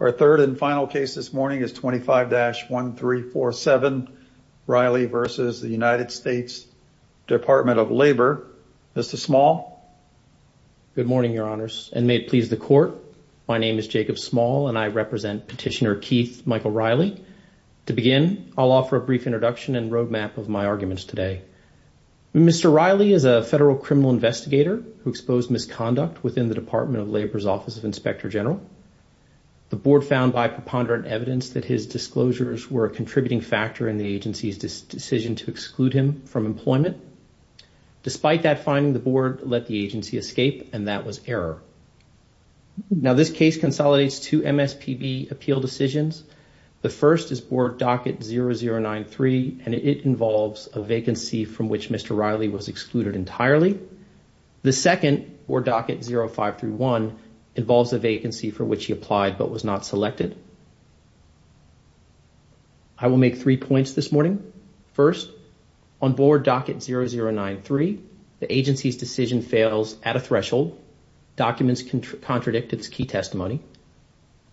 Our third and final case this morning is 25-1347 Reilly v. United States Department of Labor. Mr. Small. Good morning, Your Honors, and may it please the Court. My name is Jacob Small, and I represent Petitioner Keith Michael Reilly. To begin, I'll offer a brief introduction and roadmap of my arguments today. Mr. Reilly is a federal criminal investigator who exposed misconduct within the Department of Labor's Office of Inspector General. The Board found by preponderant evidence that his disclosures were a contributing factor in the agency's decision to exclude him from employment. Despite that finding, the Board let the agency escape, and that was error. Now, this case consolidates two MSPB appeal decisions. The first is Board Docket 0093, and it involves a vacancy from which Mr. Reilly was excluded entirely. The second, Board Docket 0531, involves a vacancy for which he applied but was not selected. I will make three points this morning. First, on Board Docket 0093, the agency's decision fails at a threshold. Documents contradict its key testimony.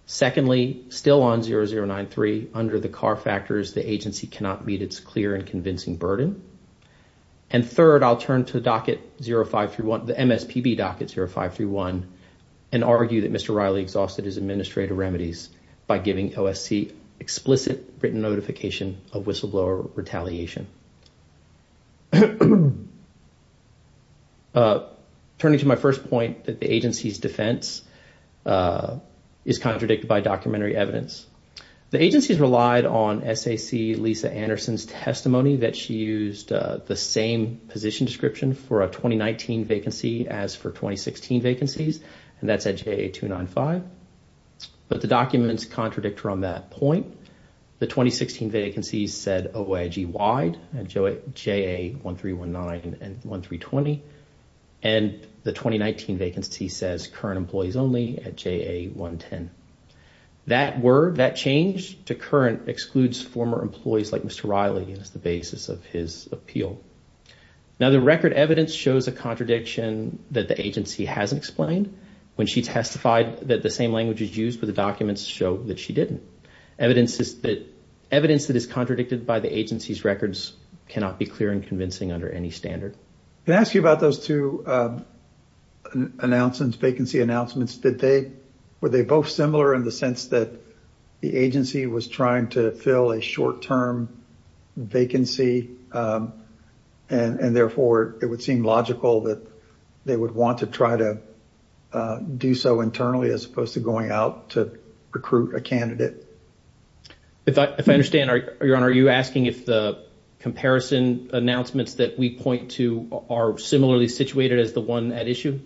Secondly, still on 0093, under the CAR factors, the agency cannot meet its clear and convincing burden. And third, I'll turn to the MSPB Docket 0531 and argue that Mr. Reilly exhausted his administrative remedies by giving OSC explicit written notification of whistleblower retaliation. Turning to my first point, that the agency's defense is contradicted by documentary evidence. The agency has relied on SAC Lisa Anderson's testimony that she used the same position description for a 2019 vacancy as for 2016 vacancies, and that's at JA 295. But the documents contradict her on that point. The 2016 vacancies said OIG wide, JA 1319 and 1320, and the 2019 vacancy says current employees only at JA 110. That word, that change to current excludes former employees like Mr. Reilly as the basis of his appeal. Now, the record evidence shows a contradiction that the agency hasn't explained. When she testified that the same language is used for the documents show that she didn't. Evidence that is contradicted by the agency's records cannot be clear and convincing under any standard. Can I ask you about those two announcements, vacancy announcements? Were they both similar in the sense that the agency was trying to fill a short-term vacancy, and therefore it would seem logical that they would want to try to do so internally as opposed to going out to recruit a candidate? If I understand, Your Honor, are you asking if the comparison announcements that we point to are similarly situated as the one at issue?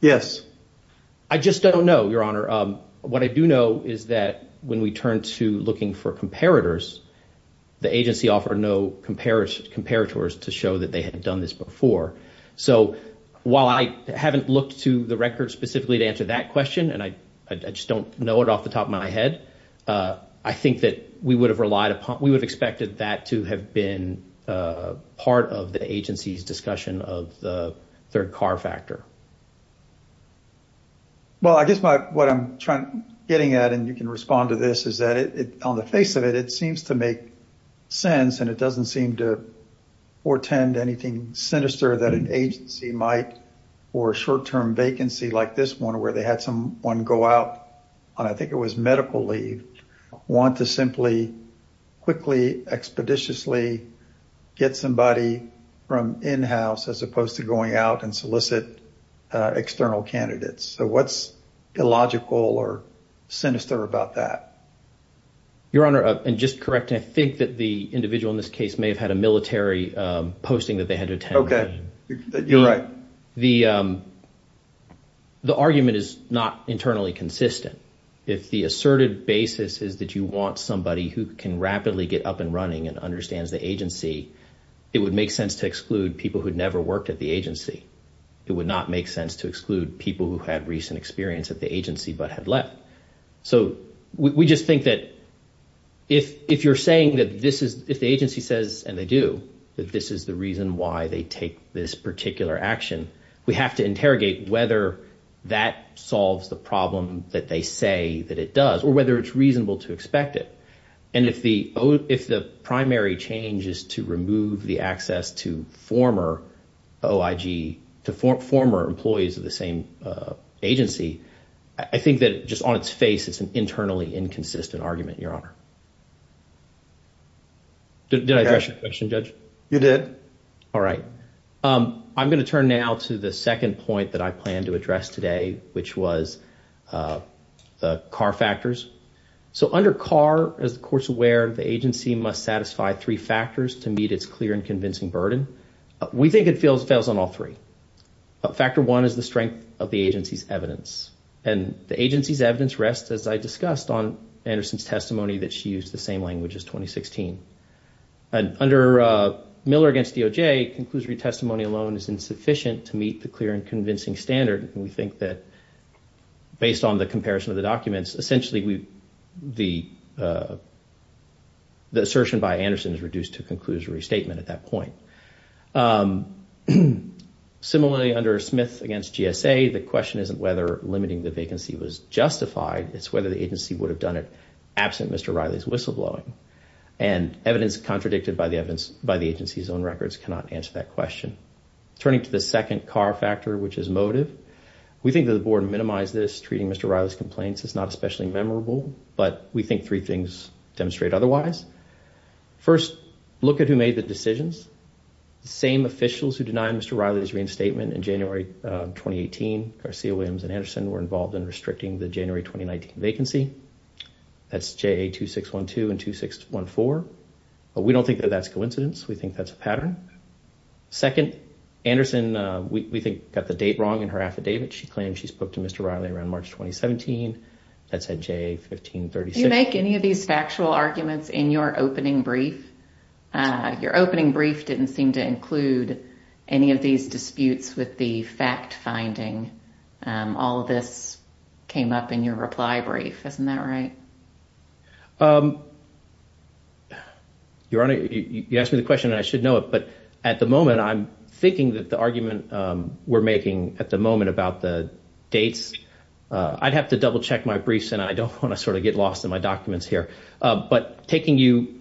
Yes. I just don't know, Your Honor. What I do know is that when we turn to looking for comparators, the agency offered no comparators to show that they had done this before. So while I haven't looked to the record specifically to answer that question, and I just don't know it off the top of my head, I think that we would have relied upon, we would have expected that to have been part of the agency's discussion of the third car factor. Well, I guess what I'm getting at, and you can respond to this, is that on the face of it, it seems to make sense, and it doesn't seem to portend anything sinister that an agency might for a short-term vacancy like this one, where they had someone go out on, I think it was medical leave, want to simply quickly, expeditiously get somebody from in-house as opposed to going out and solicit external candidates. So what's illogical or sinister about that? Your Honor, and just correcting, I think that the individual in this case may have had a military posting that they had to attend. Okay. You're right. Your Honor, the argument is not internally consistent. If the asserted basis is that you want somebody who can rapidly get up and running and understands the agency, it would make sense to exclude people who'd never worked at the agency. It would not make sense to exclude people who had recent experience at the agency but had left. So we just think that if you're saying that this is, if the agency says, and they do, that this is the reason why they take this particular action, we have to interrogate whether that solves the problem that they say that it does, or whether it's reasonable to expect it. And if the primary change is to remove the access to former OIG, to former employees of the same agency, I think that just on its face, it's an internally inconsistent argument, Your Honor. Did I address your question, Judge? You did. All right. I'm going to turn now to the second point that I plan to address today, which was the CAR factors. So under CAR, as the Court's aware, the agency must satisfy three factors to meet its clear and convincing burden. We think it fails on all three. Factor one is the strength of the agency's evidence. And the agency's evidence rests, as I discussed, on Anderson's testimony that she used the same language as 2016. Under Miller v. DOJ, conclusory testimony alone is insufficient to meet the clear and convincing standard, and we think that based on the comparison of the documents, essentially the assertion by Anderson is reduced to a conclusory statement at that point. Similarly, under Smith v. GSA, the question isn't whether limiting the vacancy was justified, it's whether the agency would have done it absent Mr. Riley's whistleblowing. And evidence contradicted by the agency's own records cannot answer that question. Turning to the second CAR factor, which is motive, we think that the Board minimized this. Treating Mr. Riley's complaints is not especially memorable, but we think three things demonstrate otherwise. First, look at who made the decisions. The same officials who denied Mr. Riley's reinstatement in January 2018, Garcia-Williams and Anderson, were involved in restricting the January 2019 vacancy. That's JA-2612 and 2614. But we don't think that that's coincidence. We think that's a pattern. Second, Anderson, we think, got the date wrong in her affidavit. She claimed she spoke to Mr. Riley around March 2017. That's at JA-1536. Do you make any of these factual arguments in your opening brief? Your opening brief didn't seem to include any of these disputes with the fact-finding. All of this came up in your reply brief. Isn't that right? Your Honor, you asked me the question and I should know it, but at the moment I'm thinking that the argument we're making at the moment about the dates, I'd have to double-check my briefs, and I don't want to sort of get lost in my documents here. But taking you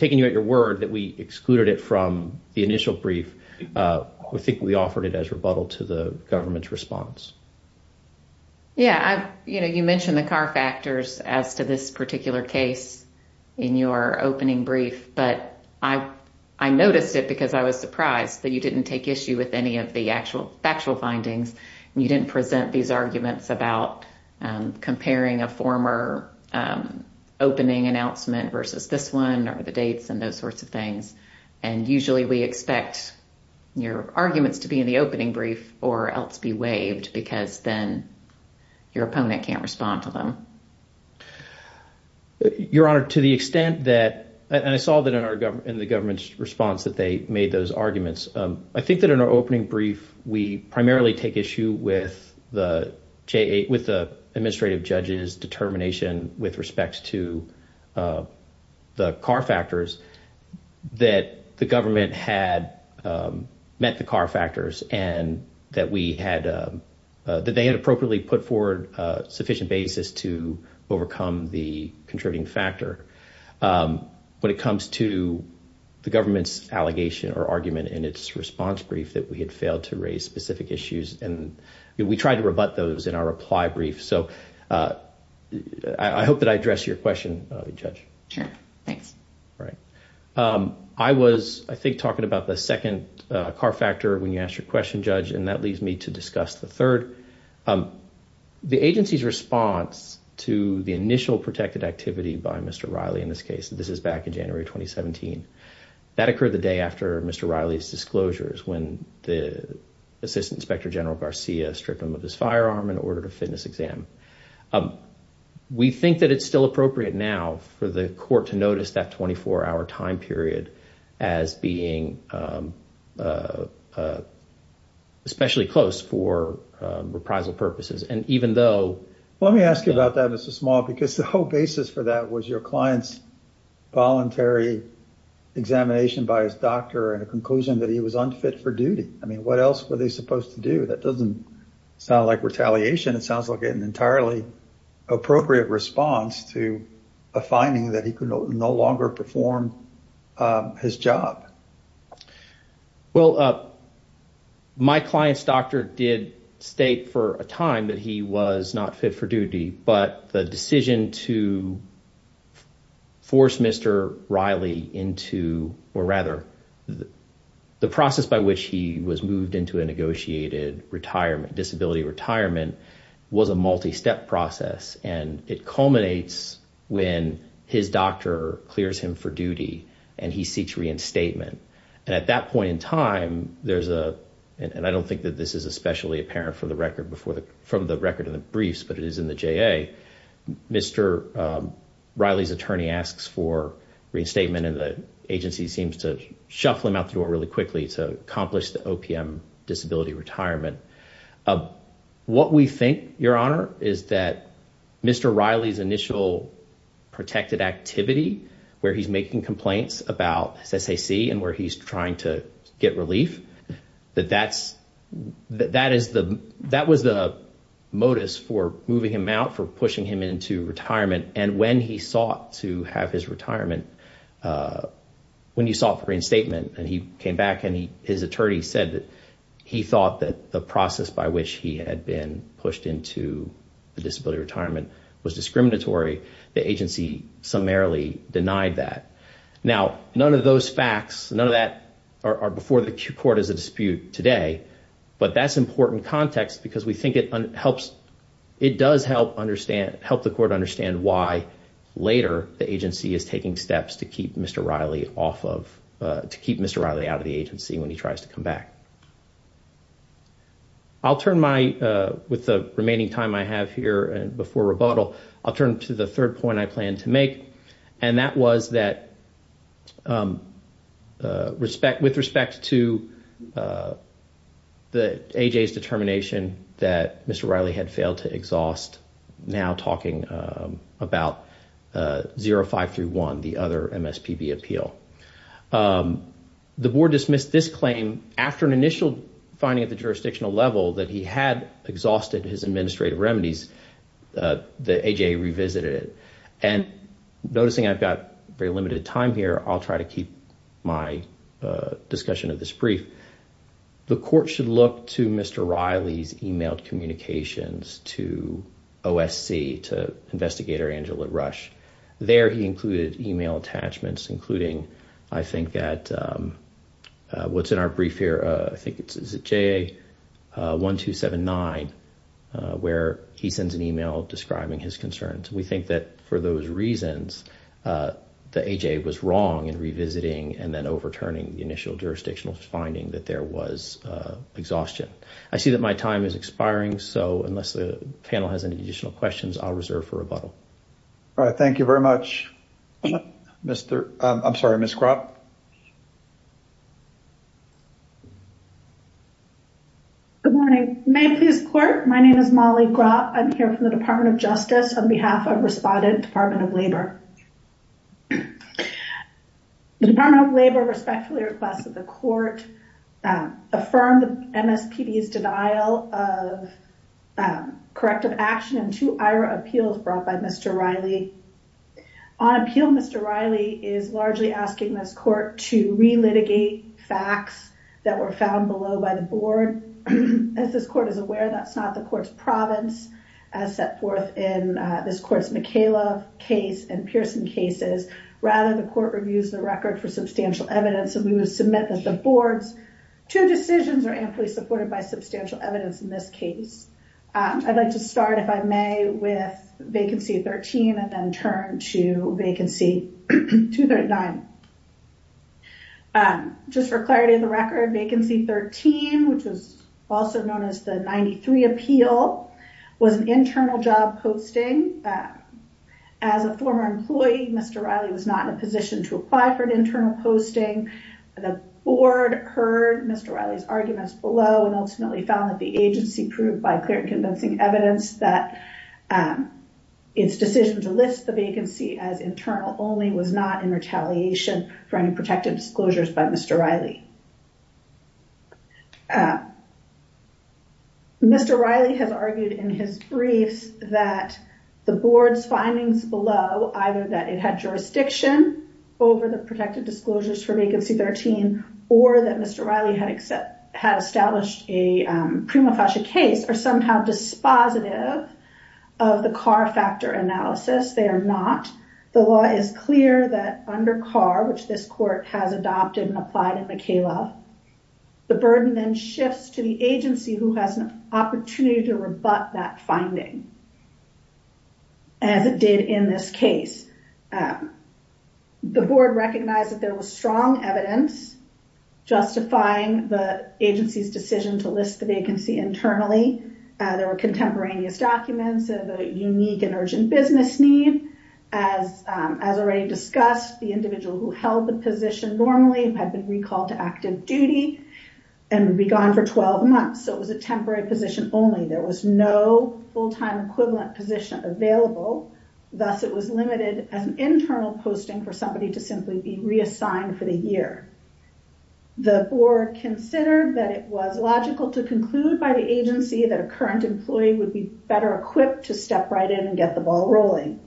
at your word that we excluded it from the initial brief, I think we offered it as rebuttal to the government's response. Yeah, you mentioned the CAR factors as to this particular case in your opening brief, but I noticed it because I was surprised that you didn't take issue with any of the actual findings. You didn't present these arguments about comparing a former opening announcement versus this one, or the dates and those sorts of things. And usually we expect your arguments to be in the opening brief or else be waived because then your opponent can't respond to them. Your Honor, to the extent that – and I saw that in the government's response that they made those arguments. I think that in our opening brief, we primarily take issue with the administrative judge's determination with respect to the CAR factors that the government had met the CAR factors and that they had appropriately put forward a sufficient basis to overcome the contributing factor. When it comes to the government's allegation or argument in its response brief that we had failed to raise specific issues, we tried to rebut those in our reply brief. So I hope that I addressed your question, Judge. Sure. Thanks. All right. I was, I think, talking about the second CAR factor when you asked your question, Judge, and that leads me to discuss the third. The agency's response to the initial protected activity by Mr. Riley in this case, this is back in January 2017, that occurred the day after Mr. Riley's disclosures when the Assistant Inspector General Garcia stripped him of his firearm and ordered a fitness exam. We think that it's still appropriate now for the court to notice that 24-hour time period as being especially close for reprisal purposes. And even though... Let me ask you about that, Mr. Small, because the whole basis for that was your client's voluntary examination by his doctor and a conclusion that he was unfit for duty. I mean, what else were they supposed to do? That doesn't sound like retaliation. It sounds like an entirely appropriate response to a finding that he could no longer perform his job. Well, my client's doctor did state for a time that he was not fit for duty, but the decision to force Mr. Riley into, or rather, the process by which he was moved into a negotiated retirement, disability retirement, was a multi-step process. And it culminates when his doctor clears him for duty and he seeks reinstatement. And at that point in time, there's a... And I don't think that this is especially apparent from the record in the briefs, but it is in the JA. Mr. Riley's attorney asks for reinstatement and the agency seems to shuffle him out the door really quickly to accomplish the OPM disability retirement. What we think, Your Honor, is that Mr. Riley's initial protected activity, where he's making complaints about his SAC and where he's trying to get relief, that that was the motus for moving him out, for pushing him into retirement. And when he sought to have his retirement, when he sought for reinstatement, and he came back and his attorney said that he thought that the process by which he had been pushed into a disability retirement was discriminatory, the agency summarily denied that. Now, none of those facts, none of that are before the court as a dispute today, but that's important context because we think it does help the court understand why later the agency is taking steps to keep Mr. Riley off of, to keep Mr. Riley out of the agency when he tries to come back. I'll turn my, with the remaining time I have here before rebuttal, I'll turn to the third point I plan to make, and that was that with respect to the AJ's determination that Mr. Riley had failed to exhaust, now talking about 0531, the other MSPB appeal, the board dismissed this claim after an initial finding at the jurisdictional level that he had exhausted his administrative remedies, the AJ revisited it. And noticing I've got very limited time here, I'll try to keep my discussion of this brief. The court should look to Mr. Riley's emailed communications to OSC, to investigator Angela Rush. There he included email attachments, including I think that what's in our brief here, I think it's JA1279, where he sends an email describing his concerns. We think that for those reasons, the AJ was wrong in revisiting and then overturning the initial jurisdictional finding that there was exhaustion. I see that my time is expiring, so unless the panel has any additional questions, I'll reserve for rebuttal. All right, thank you very much. Mr., I'm sorry, Ms. Gropp. Good morning. May it please the court, my name is Molly Gropp. I'm here from the Department of Justice on behalf of Respondent Department of Labor. The Department of Labor respectfully requests that the court affirm the MSPD's denial of corrective action in two IHRA appeals brought by Mr. Riley. On appeal, Mr. Riley is largely asking this court to relitigate facts that were found below by the board. As this court is aware, that's not the court's province, as set forth in this court's McKayla case and Pearson cases. Rather, the court reviews the record for substantial evidence, and we would submit that the board's two decisions are amply supported by substantial evidence in this case. I'd like to start, if I may, with Vacancy 13 and then turn to Vacancy 239. Just for clarity of the record, Vacancy 13, which was also known as the 93 appeal, was an internal job posting. As a former employee, Mr. Riley was not in a position to apply for an internal posting. The board heard Mr. Riley's arguments below, and ultimately found that the agency proved by clear and convincing evidence that its decision to list the vacancy as internal only was not in retaliation for any protective disclosures by Mr. Riley. Mr. Riley has argued in his briefs that the board's findings below, either that it had jurisdiction over the protective disclosures for Vacancy 13, or that Mr. Riley had established a prima facie case, are somehow dispositive of the CAR factor analysis. They are not. The law is clear that under CAR, which this court has adopted and applied in McKayla, the burden then shifts to the agency who has an opportunity to rebut that finding, as it did in this case. The board recognized that there was strong evidence justifying the agency's decision to list the vacancy internally. There were contemporaneous documents of a unique and urgent business need. As already discussed, the individual who held the position normally had been recalled to active duty and would be gone for 12 months, so it was a temporary position only. There was no full-time equivalent position available. Thus, it was limited as an internal posting for somebody to simply be reassigned for the year. The board considered that it was logical to conclude by the agency that a current employee would be better equipped to step right in and get the ball rolling.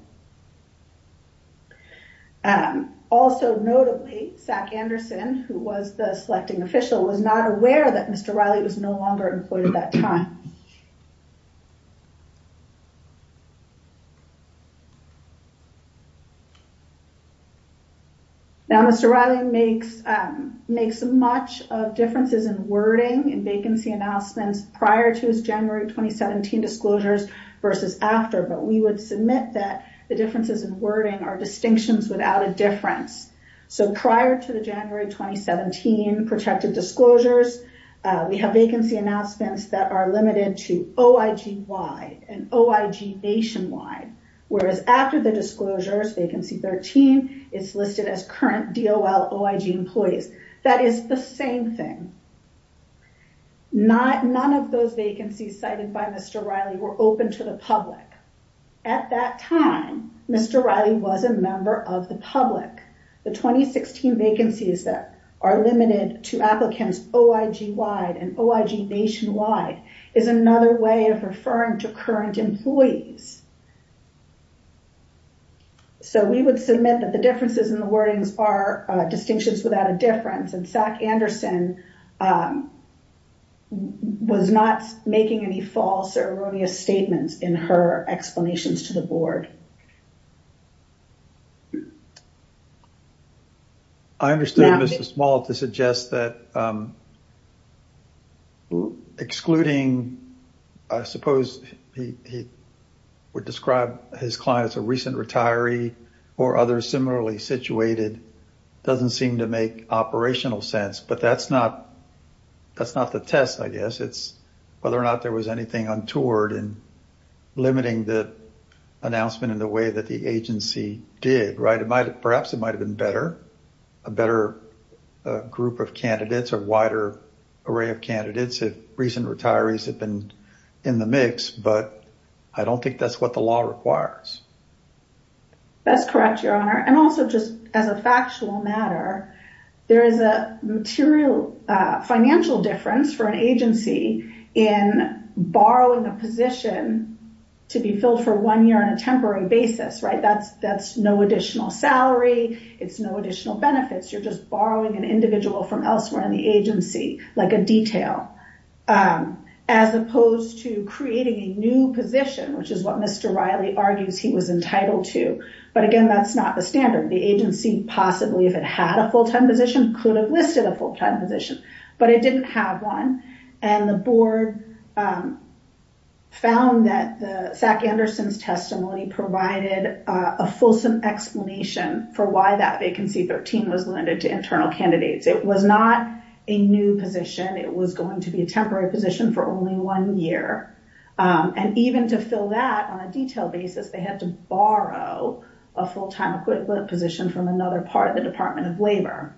Also notably, Zach Anderson, who was the selecting official, was not aware that Mr. Riley was no longer employed at that time. Now, Mr. Riley makes much of differences in wording in vacancy announcements prior to his January 2017 disclosures versus after, but we would submit that the differences in wording are distinctions without a difference. So prior to the January 2017 protected disclosures, we have vacancy announcements that are limited to OIG-wide and OIG-nationwide, whereas after the disclosures, vacancy 13, it's listed as current DOL OIG employees. That is the same thing. None of those vacancies cited by Mr. Riley were open to the public. At that time, Mr. Riley was a member of the public. The 2016 vacancies that are limited to applicants OIG-wide and OIG-nationwide is another way of referring to current employees. So we would submit that the differences in the wordings are distinctions without a difference, and Zach Anderson was not making any false or erroneous statements in her explanations to the board. I understand Mr. Small to suggest that excluding, I suppose he would describe his client as a recent retiree or others similarly situated doesn't seem to make operational sense, but that's not the test, I guess. It's whether or not there was anything untoward in limiting the announcement in the way that the agency did. Perhaps it might have been better, a better group of candidates or wider array of candidates if recent retirees had been in the mix, but I don't think that's what the law requires. That's correct, Your Honor. And also just as a factual matter, there is a financial difference for an agency in borrowing a position to be filled for one year on a temporary basis. That's no additional salary. It's no additional benefits. You're just borrowing an individual from elsewhere in the agency, like a detail, as opposed to creating a new position, which is what Mr. Riley argues he was entitled to. But again, that's not the standard. The agency possibly, if it had a full-time position, could have listed a full-time position, but it didn't have one. And the board found that the SAC Anderson's testimony provided a fulsome explanation for why that vacancy 13 was limited to internal candidates. It was not a new position. It was going to be a temporary position for only one year. And even to fill that on a detailed basis, they had to borrow a full-time position from another part of the Department of Labor.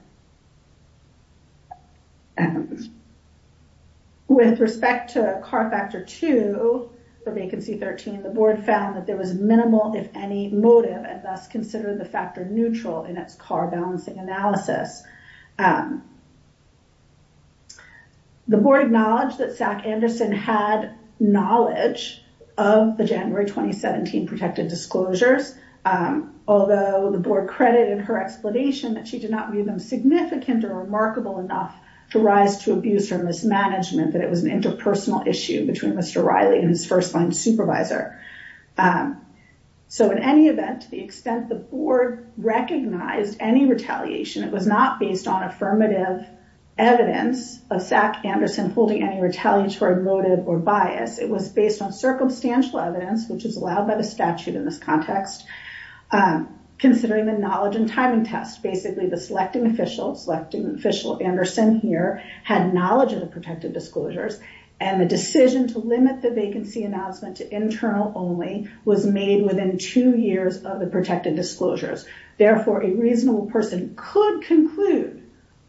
With respect to CAR Factor 2 for vacancy 13, the board found that there was minimal, if any, motive, and thus considered the factor neutral in its CAR balancing analysis. The board acknowledged that SAC Anderson had knowledge of the January 2017 protected disclosures, although the board credited her explanation that she did not view them significant or remarkable enough to rise to abuse or mismanagement, that it was an interpersonal issue between Mr. Riley and his first-line supervisor. So in any event, to the extent the board recognized any retaliation, it was not based on affirmative evidence of SAC Anderson holding any retaliatory motive or bias. It was based on circumstantial evidence, which is allowed by the statute in this context, considering the knowledge and timing test. Basically, the selecting official, selecting official Anderson here, had knowledge of the protected disclosures, and the decision to limit the vacancy announcement to internal only was made within two years of the protected disclosures. Therefore, a reasonable person could conclude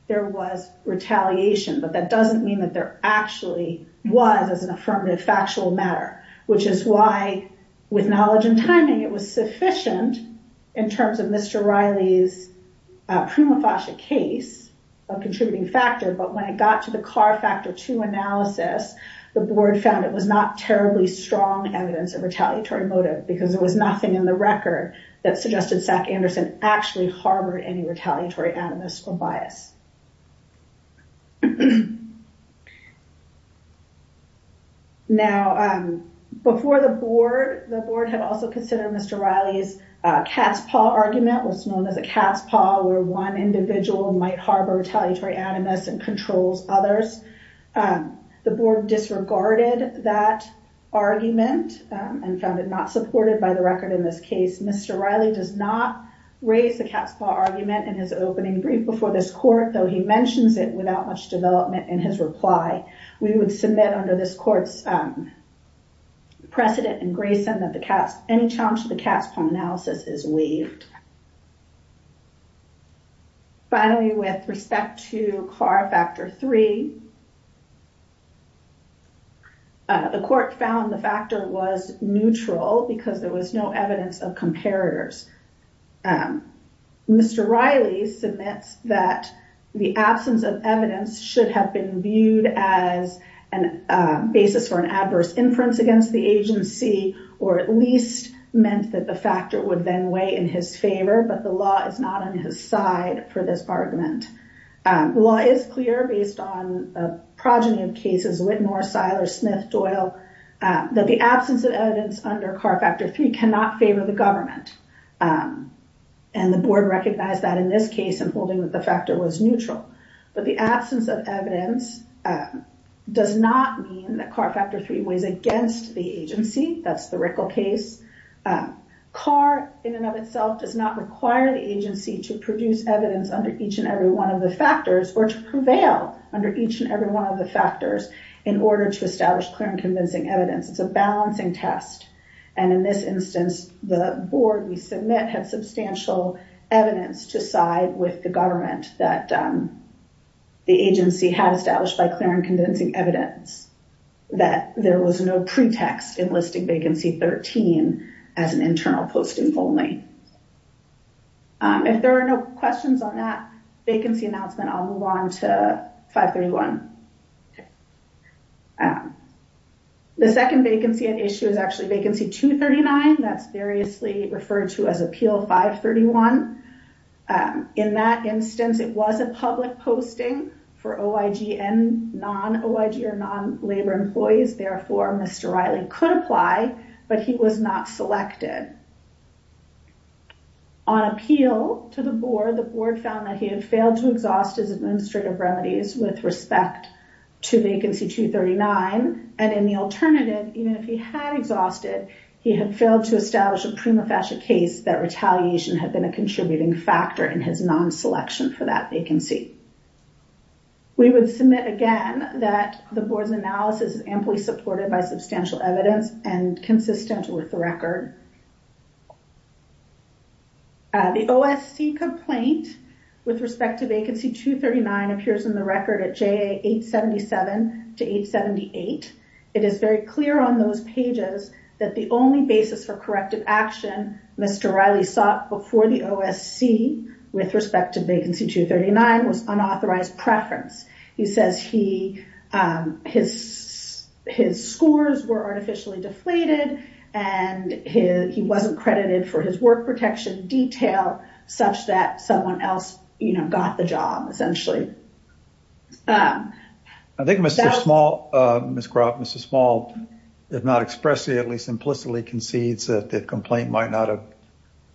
there was retaliation, but that doesn't mean that there actually was as an affirmative factual matter, which is why, with knowledge and timing, it was sufficient in terms of Mr. Riley's prima facie case of contributing factor, but when it got to the CAR Factor II analysis, the board found it was not terribly strong evidence of retaliatory motive because there was nothing in the record that suggested SAC Anderson actually harbored any retaliatory animus or bias. Now, before the board, the board had also considered Mr. Riley's cat's paw argument, what's known as a cat's paw, where one individual might harbor retaliatory animus and controls others. The board disregarded that argument and found it not supported by the record in this case. Mr. Riley does not raise the cat's paw argument in his opening brief before this court, though he mentions it without much development in his reply. We would submit under this court's precedent in Grayson that any challenge to the cat's paw analysis is waived. Finally, with respect to CAR Factor III, the court found the factor was neutral because there was no evidence of comparators. Mr. Riley submits that the absence of evidence should have been viewed as a basis for an adverse inference against the agency or at least meant that the factor would then weigh in his favor, but the law is not on his side for this argument. The law is clear based on the progeny of cases, Whitmore, Seiler, Smith, Doyle, that the absence of evidence under CAR Factor III cannot favor the government, and the board recognized that in this case in holding that the factor was neutral. But the absence of evidence does not mean that CAR Factor III weighs against the agency. That's the Rickle case. CAR in and of itself does not require the agency to produce evidence under each and every one of the factors or to prevail under each and every one of the factors in order to establish clear and convincing evidence. It's a balancing test, and in this instance, the board we submit had substantial evidence to side with the government that the agency had established by clear and convincing evidence that there was no pretext in listing vacancy 13 as an internal posting only. If there are no questions on that vacancy announcement, I'll move on to 531. The second vacancy at issue is actually Vacancy 239. That's variously referred to as Appeal 531. In that instance, it was a public posting for OIG and non-OIG or non-labor employees. Therefore, Mr. Riley could apply, but he was not selected. On appeal to the board, the board found that he had failed to exhaust his administrative remedies with respect to Vacancy 239, and in the alternative, even if he had exhausted, he had failed to establish a prima facie case that retaliation had been a contributing factor in his non-selection for that vacancy. We would submit again that the board's analysis is amply supported by substantial evidence and consistent with the record. The OSC complaint with respect to Vacancy 239 appears in the record at JA 877 to 878. It is very clear on those pages that the only basis for corrective action Mr. Riley sought before the OSC with respect to Vacancy 239 was unauthorized preference. He says his scores were artificially deflated and he wasn't credited for his work protection detail such that someone else got the job, essentially. I think Mr. Small, Ms. Croft, Mr. Small, if not expressly, at least implicitly concedes that the complaint might not have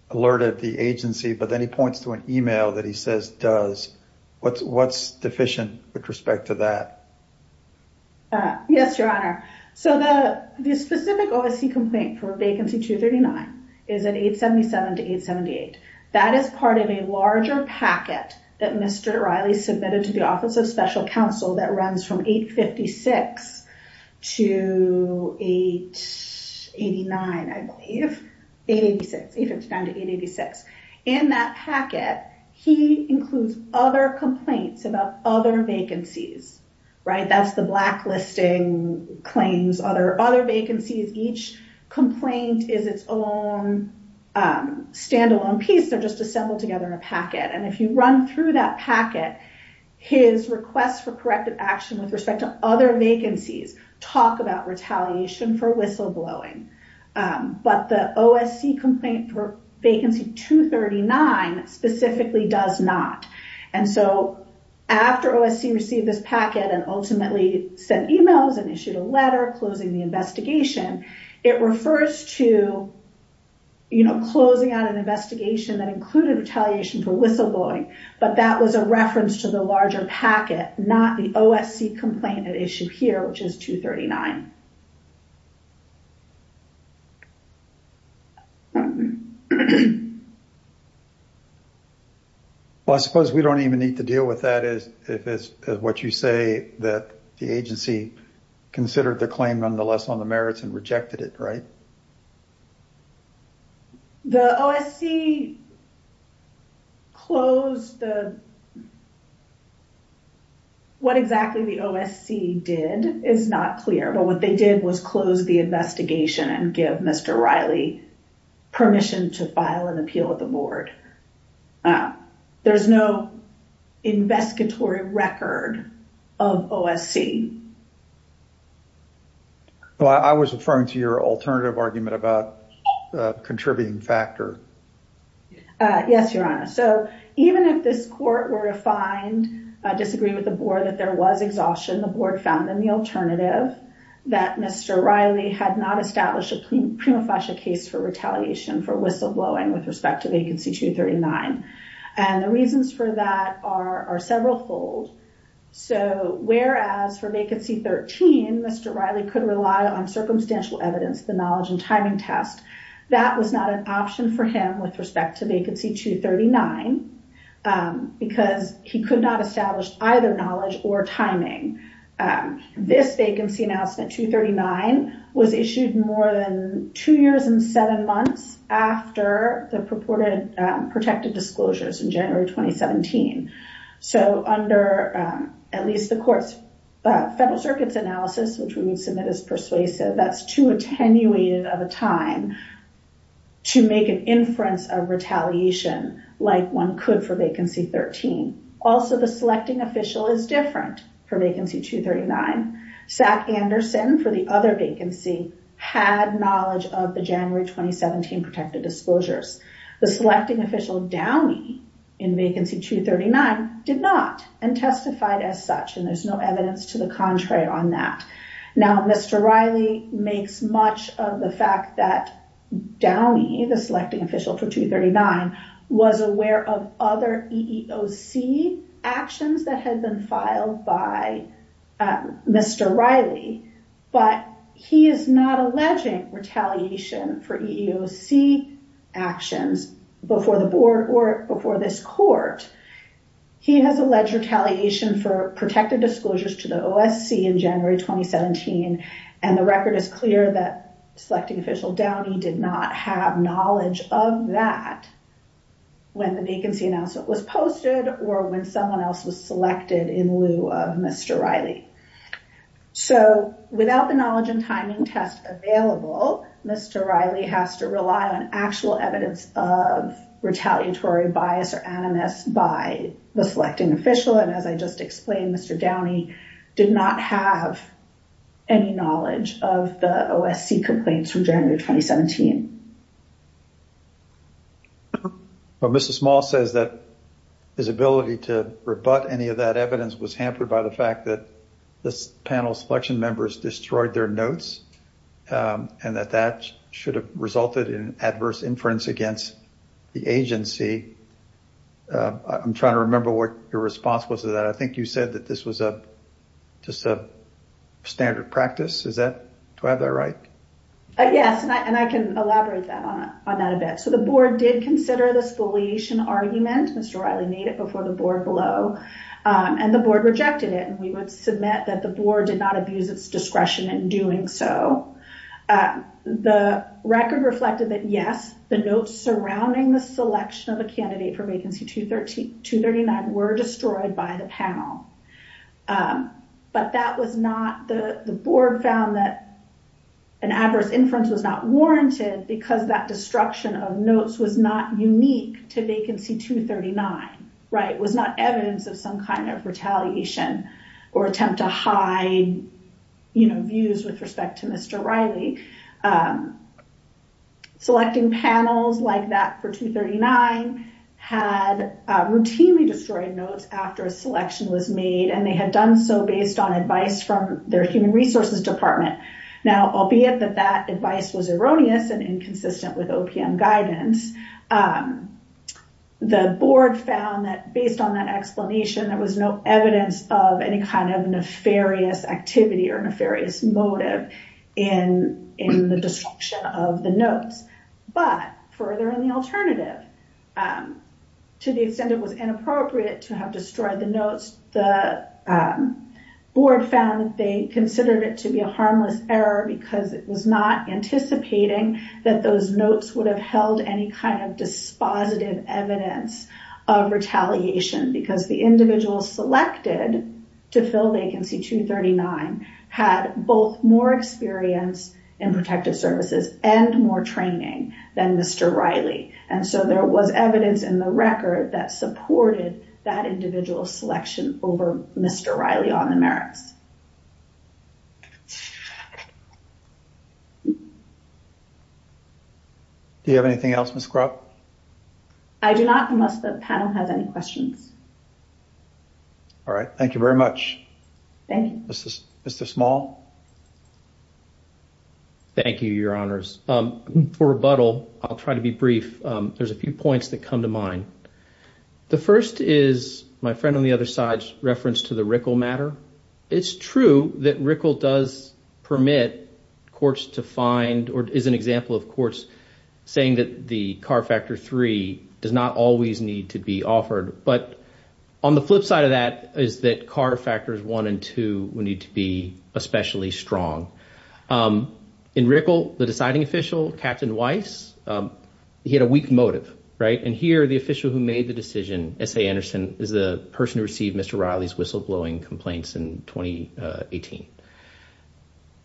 alerted the agency, but then he points to an email that he says does. What's deficient with respect to that? Yes, Your Honor. So the specific OSC complaint for Vacancy 239 is at 877 to 878. That is part of a larger packet that Mr. Riley submitted to the Office of Special Counsel that runs from 856 to 889, I believe. 886, 859 to 886. In that packet, he includes other complaints about other vacancies, right? That's the blacklisting claims, other vacancies. Each complaint is its own standalone piece. They're just assembled together in a packet. And if you run through that packet, his requests for corrective action with respect to other vacancies talk about retaliation for whistleblowing. But the OSC complaint for Vacancy 239 specifically does not. And so after OSC received this packet and ultimately sent emails and issued a letter closing the investigation, it refers to closing out an investigation that included retaliation for whistleblowing, but that was a reference to the larger packet, not the OSC complaint at issue here, which is 239. Well, I suppose we don't even need to deal with that if it's what you say that the agency considered the claim nonetheless on the merits and rejected it, right? The OSC closed the... What exactly the OSC did is not clear, but what they did was close the investigation and give Mr. Riley permission to file an appeal with the board. There's no investigatory record of OSC. Well, I was referring to your alternative argument about the contributing factor. Yes, Your Honor. So even if this court were to find, disagree with the board that there was exhaustion, the board found in the alternative that Mr. Riley had not established a prima facie case for retaliation for whistleblowing with respect to Vacancy 239. And the reasons for that are several fold. So whereas for Vacancy 13, Mr. Riley could rely on circumstantial evidence, the knowledge and timing test, that was not an option for him with respect to Vacancy 239 because he could not establish either knowledge or timing This Vacancy Announcement 239 was issued more than two years and seven months after the purported protected disclosures in January 2017. So under at least the court's Federal Circuit's analysis, which we would submit as persuasive, that's too attenuated of a time to make an inference of retaliation like one could for Vacancy 13. Also the selecting official is different for Vacancy 239. Zach Anderson for the other vacancy had knowledge of the January 2017 protected disclosures. The selecting official Downey in Vacancy 239 did not and testified as such and there's no evidence to the contrary on that. Now Mr. Riley makes much of the fact that Downey, the selecting official for 239, was aware of other EEOC actions that had been filed by Mr. Riley, but he is not alleging retaliation for EEOC actions before the board or before this court. He has alleged retaliation for protected disclosures to the OSC in January 2017 and the record is clear that selecting official Downey did not have knowledge of that when the vacancy announcement was posted or when someone else was selected in lieu of Mr. Riley. So without the knowledge and timing test available, Mr. Riley has to rely on actual evidence of retaliatory bias or animus by the selecting official and as I just explained, Mr. Downey did not have any knowledge of the OSC complaints from January 2017. But Mrs. Small says that his ability to rebut any of that evidence was hampered by the fact that this panel's selection members destroyed their notes and that that should have resulted in adverse inference against the agency. I'm trying to remember what your response was to that. I think you said that this was just a standard practice. Do I have that right? Yes, and I can elaborate on that a bit. So the board did consider the spoliation argument. Mr. Riley made it before the board below and the board rejected it and we would submit that the board did not abuse its discretion in doing so. The record reflected that yes, the notes surrounding the selection of a candidate for vacancy 239 were destroyed by the panel. But the board found that an adverse inference was not warranted because that destruction of notes was not unique to vacancy 239. It was not evidence of some kind of retaliation or attempt to hide views with respect to Mr. Riley. Selecting panels like that for 239 had routinely destroyed notes after a selection was made and they had done so based on advice from their human resources department. Now, albeit that that advice was erroneous and inconsistent with OPM guidance, the board found that based on that explanation there was no evidence of any kind of nefarious activity or nefarious motive in the destruction of the notes. But further in the alternative, to the extent it was inappropriate to have destroyed the notes, the board found that they considered it to be a harmless error because it was not anticipating that those notes would have held any kind of dispositive evidence of retaliation because the individual selected to fill vacancy 239 had both more experience in protective services and more training than Mr. Riley. And so there was evidence in the record that supported that individual selection over Mr. Riley on the merits. Do you have anything else, Ms. Krupp? I do not, unless the panel has any questions. All right. Thank you very much. Thank you. Mr. Small? Thank you, Your Honors. For rebuttal, I'll try to be brief. There's a few points that come to mind. The first is my friend on the other side's reference to the RICL matter. It's true that RICL does permit courts to find or is an example of courts saying that the CAR Factor 3 does not always need to be offered. But on the flip side of that is that CAR Factors 1 and 2 would need to be especially strong. In RICL, the deciding official, Captain Weiss, he had a weak motive, right? And here, the official who made the decision, S.A. Anderson, is the person who received Mr. Riley's whistleblowing complaints in 2018.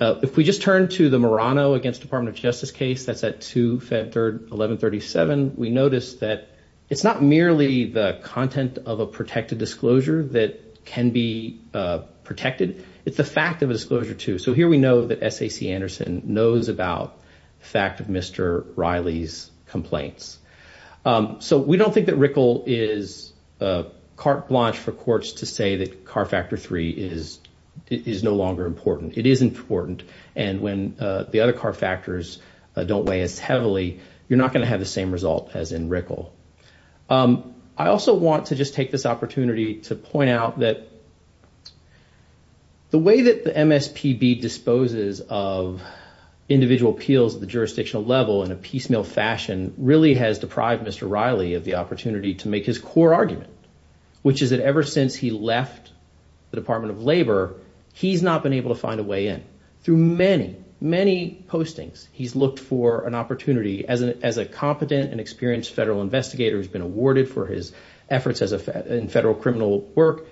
If we just turn to the Murano against Department of Justice case that's at 2 Feb. 3, 1137, we notice that it's not merely the content of a protected disclosure that can be protected. It's the fact of a disclosure, too. So here we know that S.A.C. Anderson knows about the fact of Mr. Riley's complaints. So we don't think that RICL is carte blanche for courts to say that CAR Factor 3 is no longer important. It is important. And when the other CAR Factors don't weigh as heavily, you're not going to have the same result as in RICL. I also want to just take this opportunity to point out that the way that the MSPB disposes of individual appeals at the jurisdictional level in a piecemeal fashion really has deprived Mr. Riley of the opportunity to make his core argument, which is that ever since he left the Department of Labor, he's not been able to find a way in. Through many, many postings, he's looked for an opportunity as a competent and experienced federal investigator who's been awarded for his efforts in federal criminal work,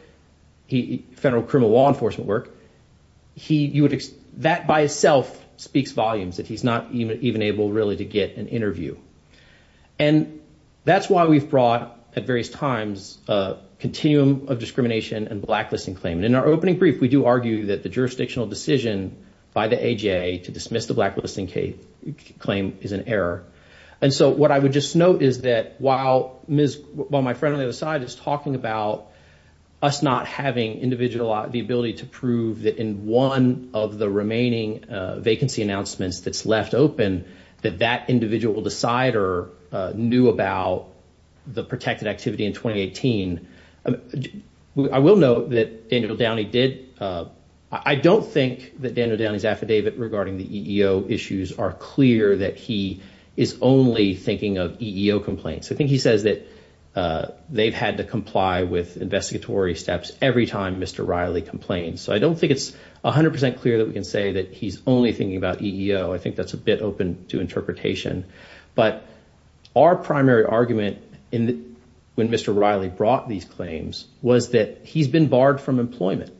federal criminal law enforcement work. That by itself speaks volumes, that he's not even able really to get an interview. And that's why we've brought at various times a continuum of discrimination and blacklisting claim. In our opening brief, we do argue that the jurisdictional decision by the AJA to dismiss the blacklisting claim is an error. And so what I would just note is that while my friend on the other side is talking about us not having the ability to prove that in one of the remaining vacancy announcements that's left open, that that individual decider knew about the protected activity in 2018, I will note that Daniel Downey did. I don't think that Daniel Downey's affidavit regarding the EEO issues are clear that he is only thinking of EEO complaints. I think he says that they've had to comply with investigatory steps every time Mr. Riley complained. So I don't think it's 100% clear that we can say that he's only thinking about EEO. I think that's a bit open to interpretation. But our primary argument when Mr. Riley brought these claims was that he's been barred from employment.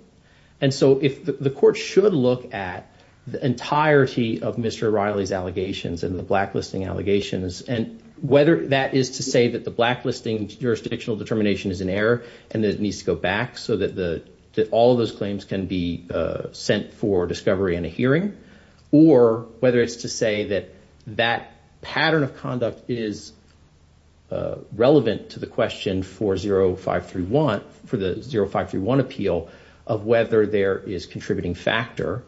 And so the court should look at the entirety of Mr. Riley's allegations and the blacklisting allegations, and whether that is to say that the blacklisting jurisdictional determination is an error and that it needs to go back so that all of those claims can be sent for discovery in a hearing, or whether it's to say that that pattern of conduct is relevant to the question for 0531, for the 0531 appeal of whether there is contributing factor.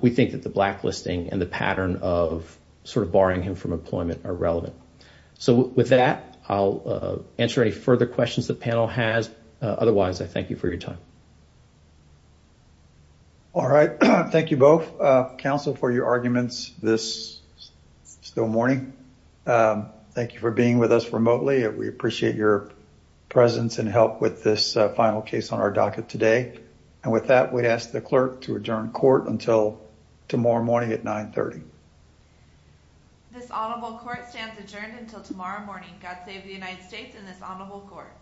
We think that the blacklisting and the pattern of sort of barring him from employment are relevant. So with that, I'll answer any further questions the panel has. Otherwise, I thank you for your time. All right. Thank you both, counsel, for your arguments this still morning. Thank you for being with us remotely. We appreciate your presence and help with this final case on our docket today. And with that, we ask the clerk to adjourn court until tomorrow morning at 930. This honorable court stands adjourned until tomorrow morning. God save the United States and this honorable court.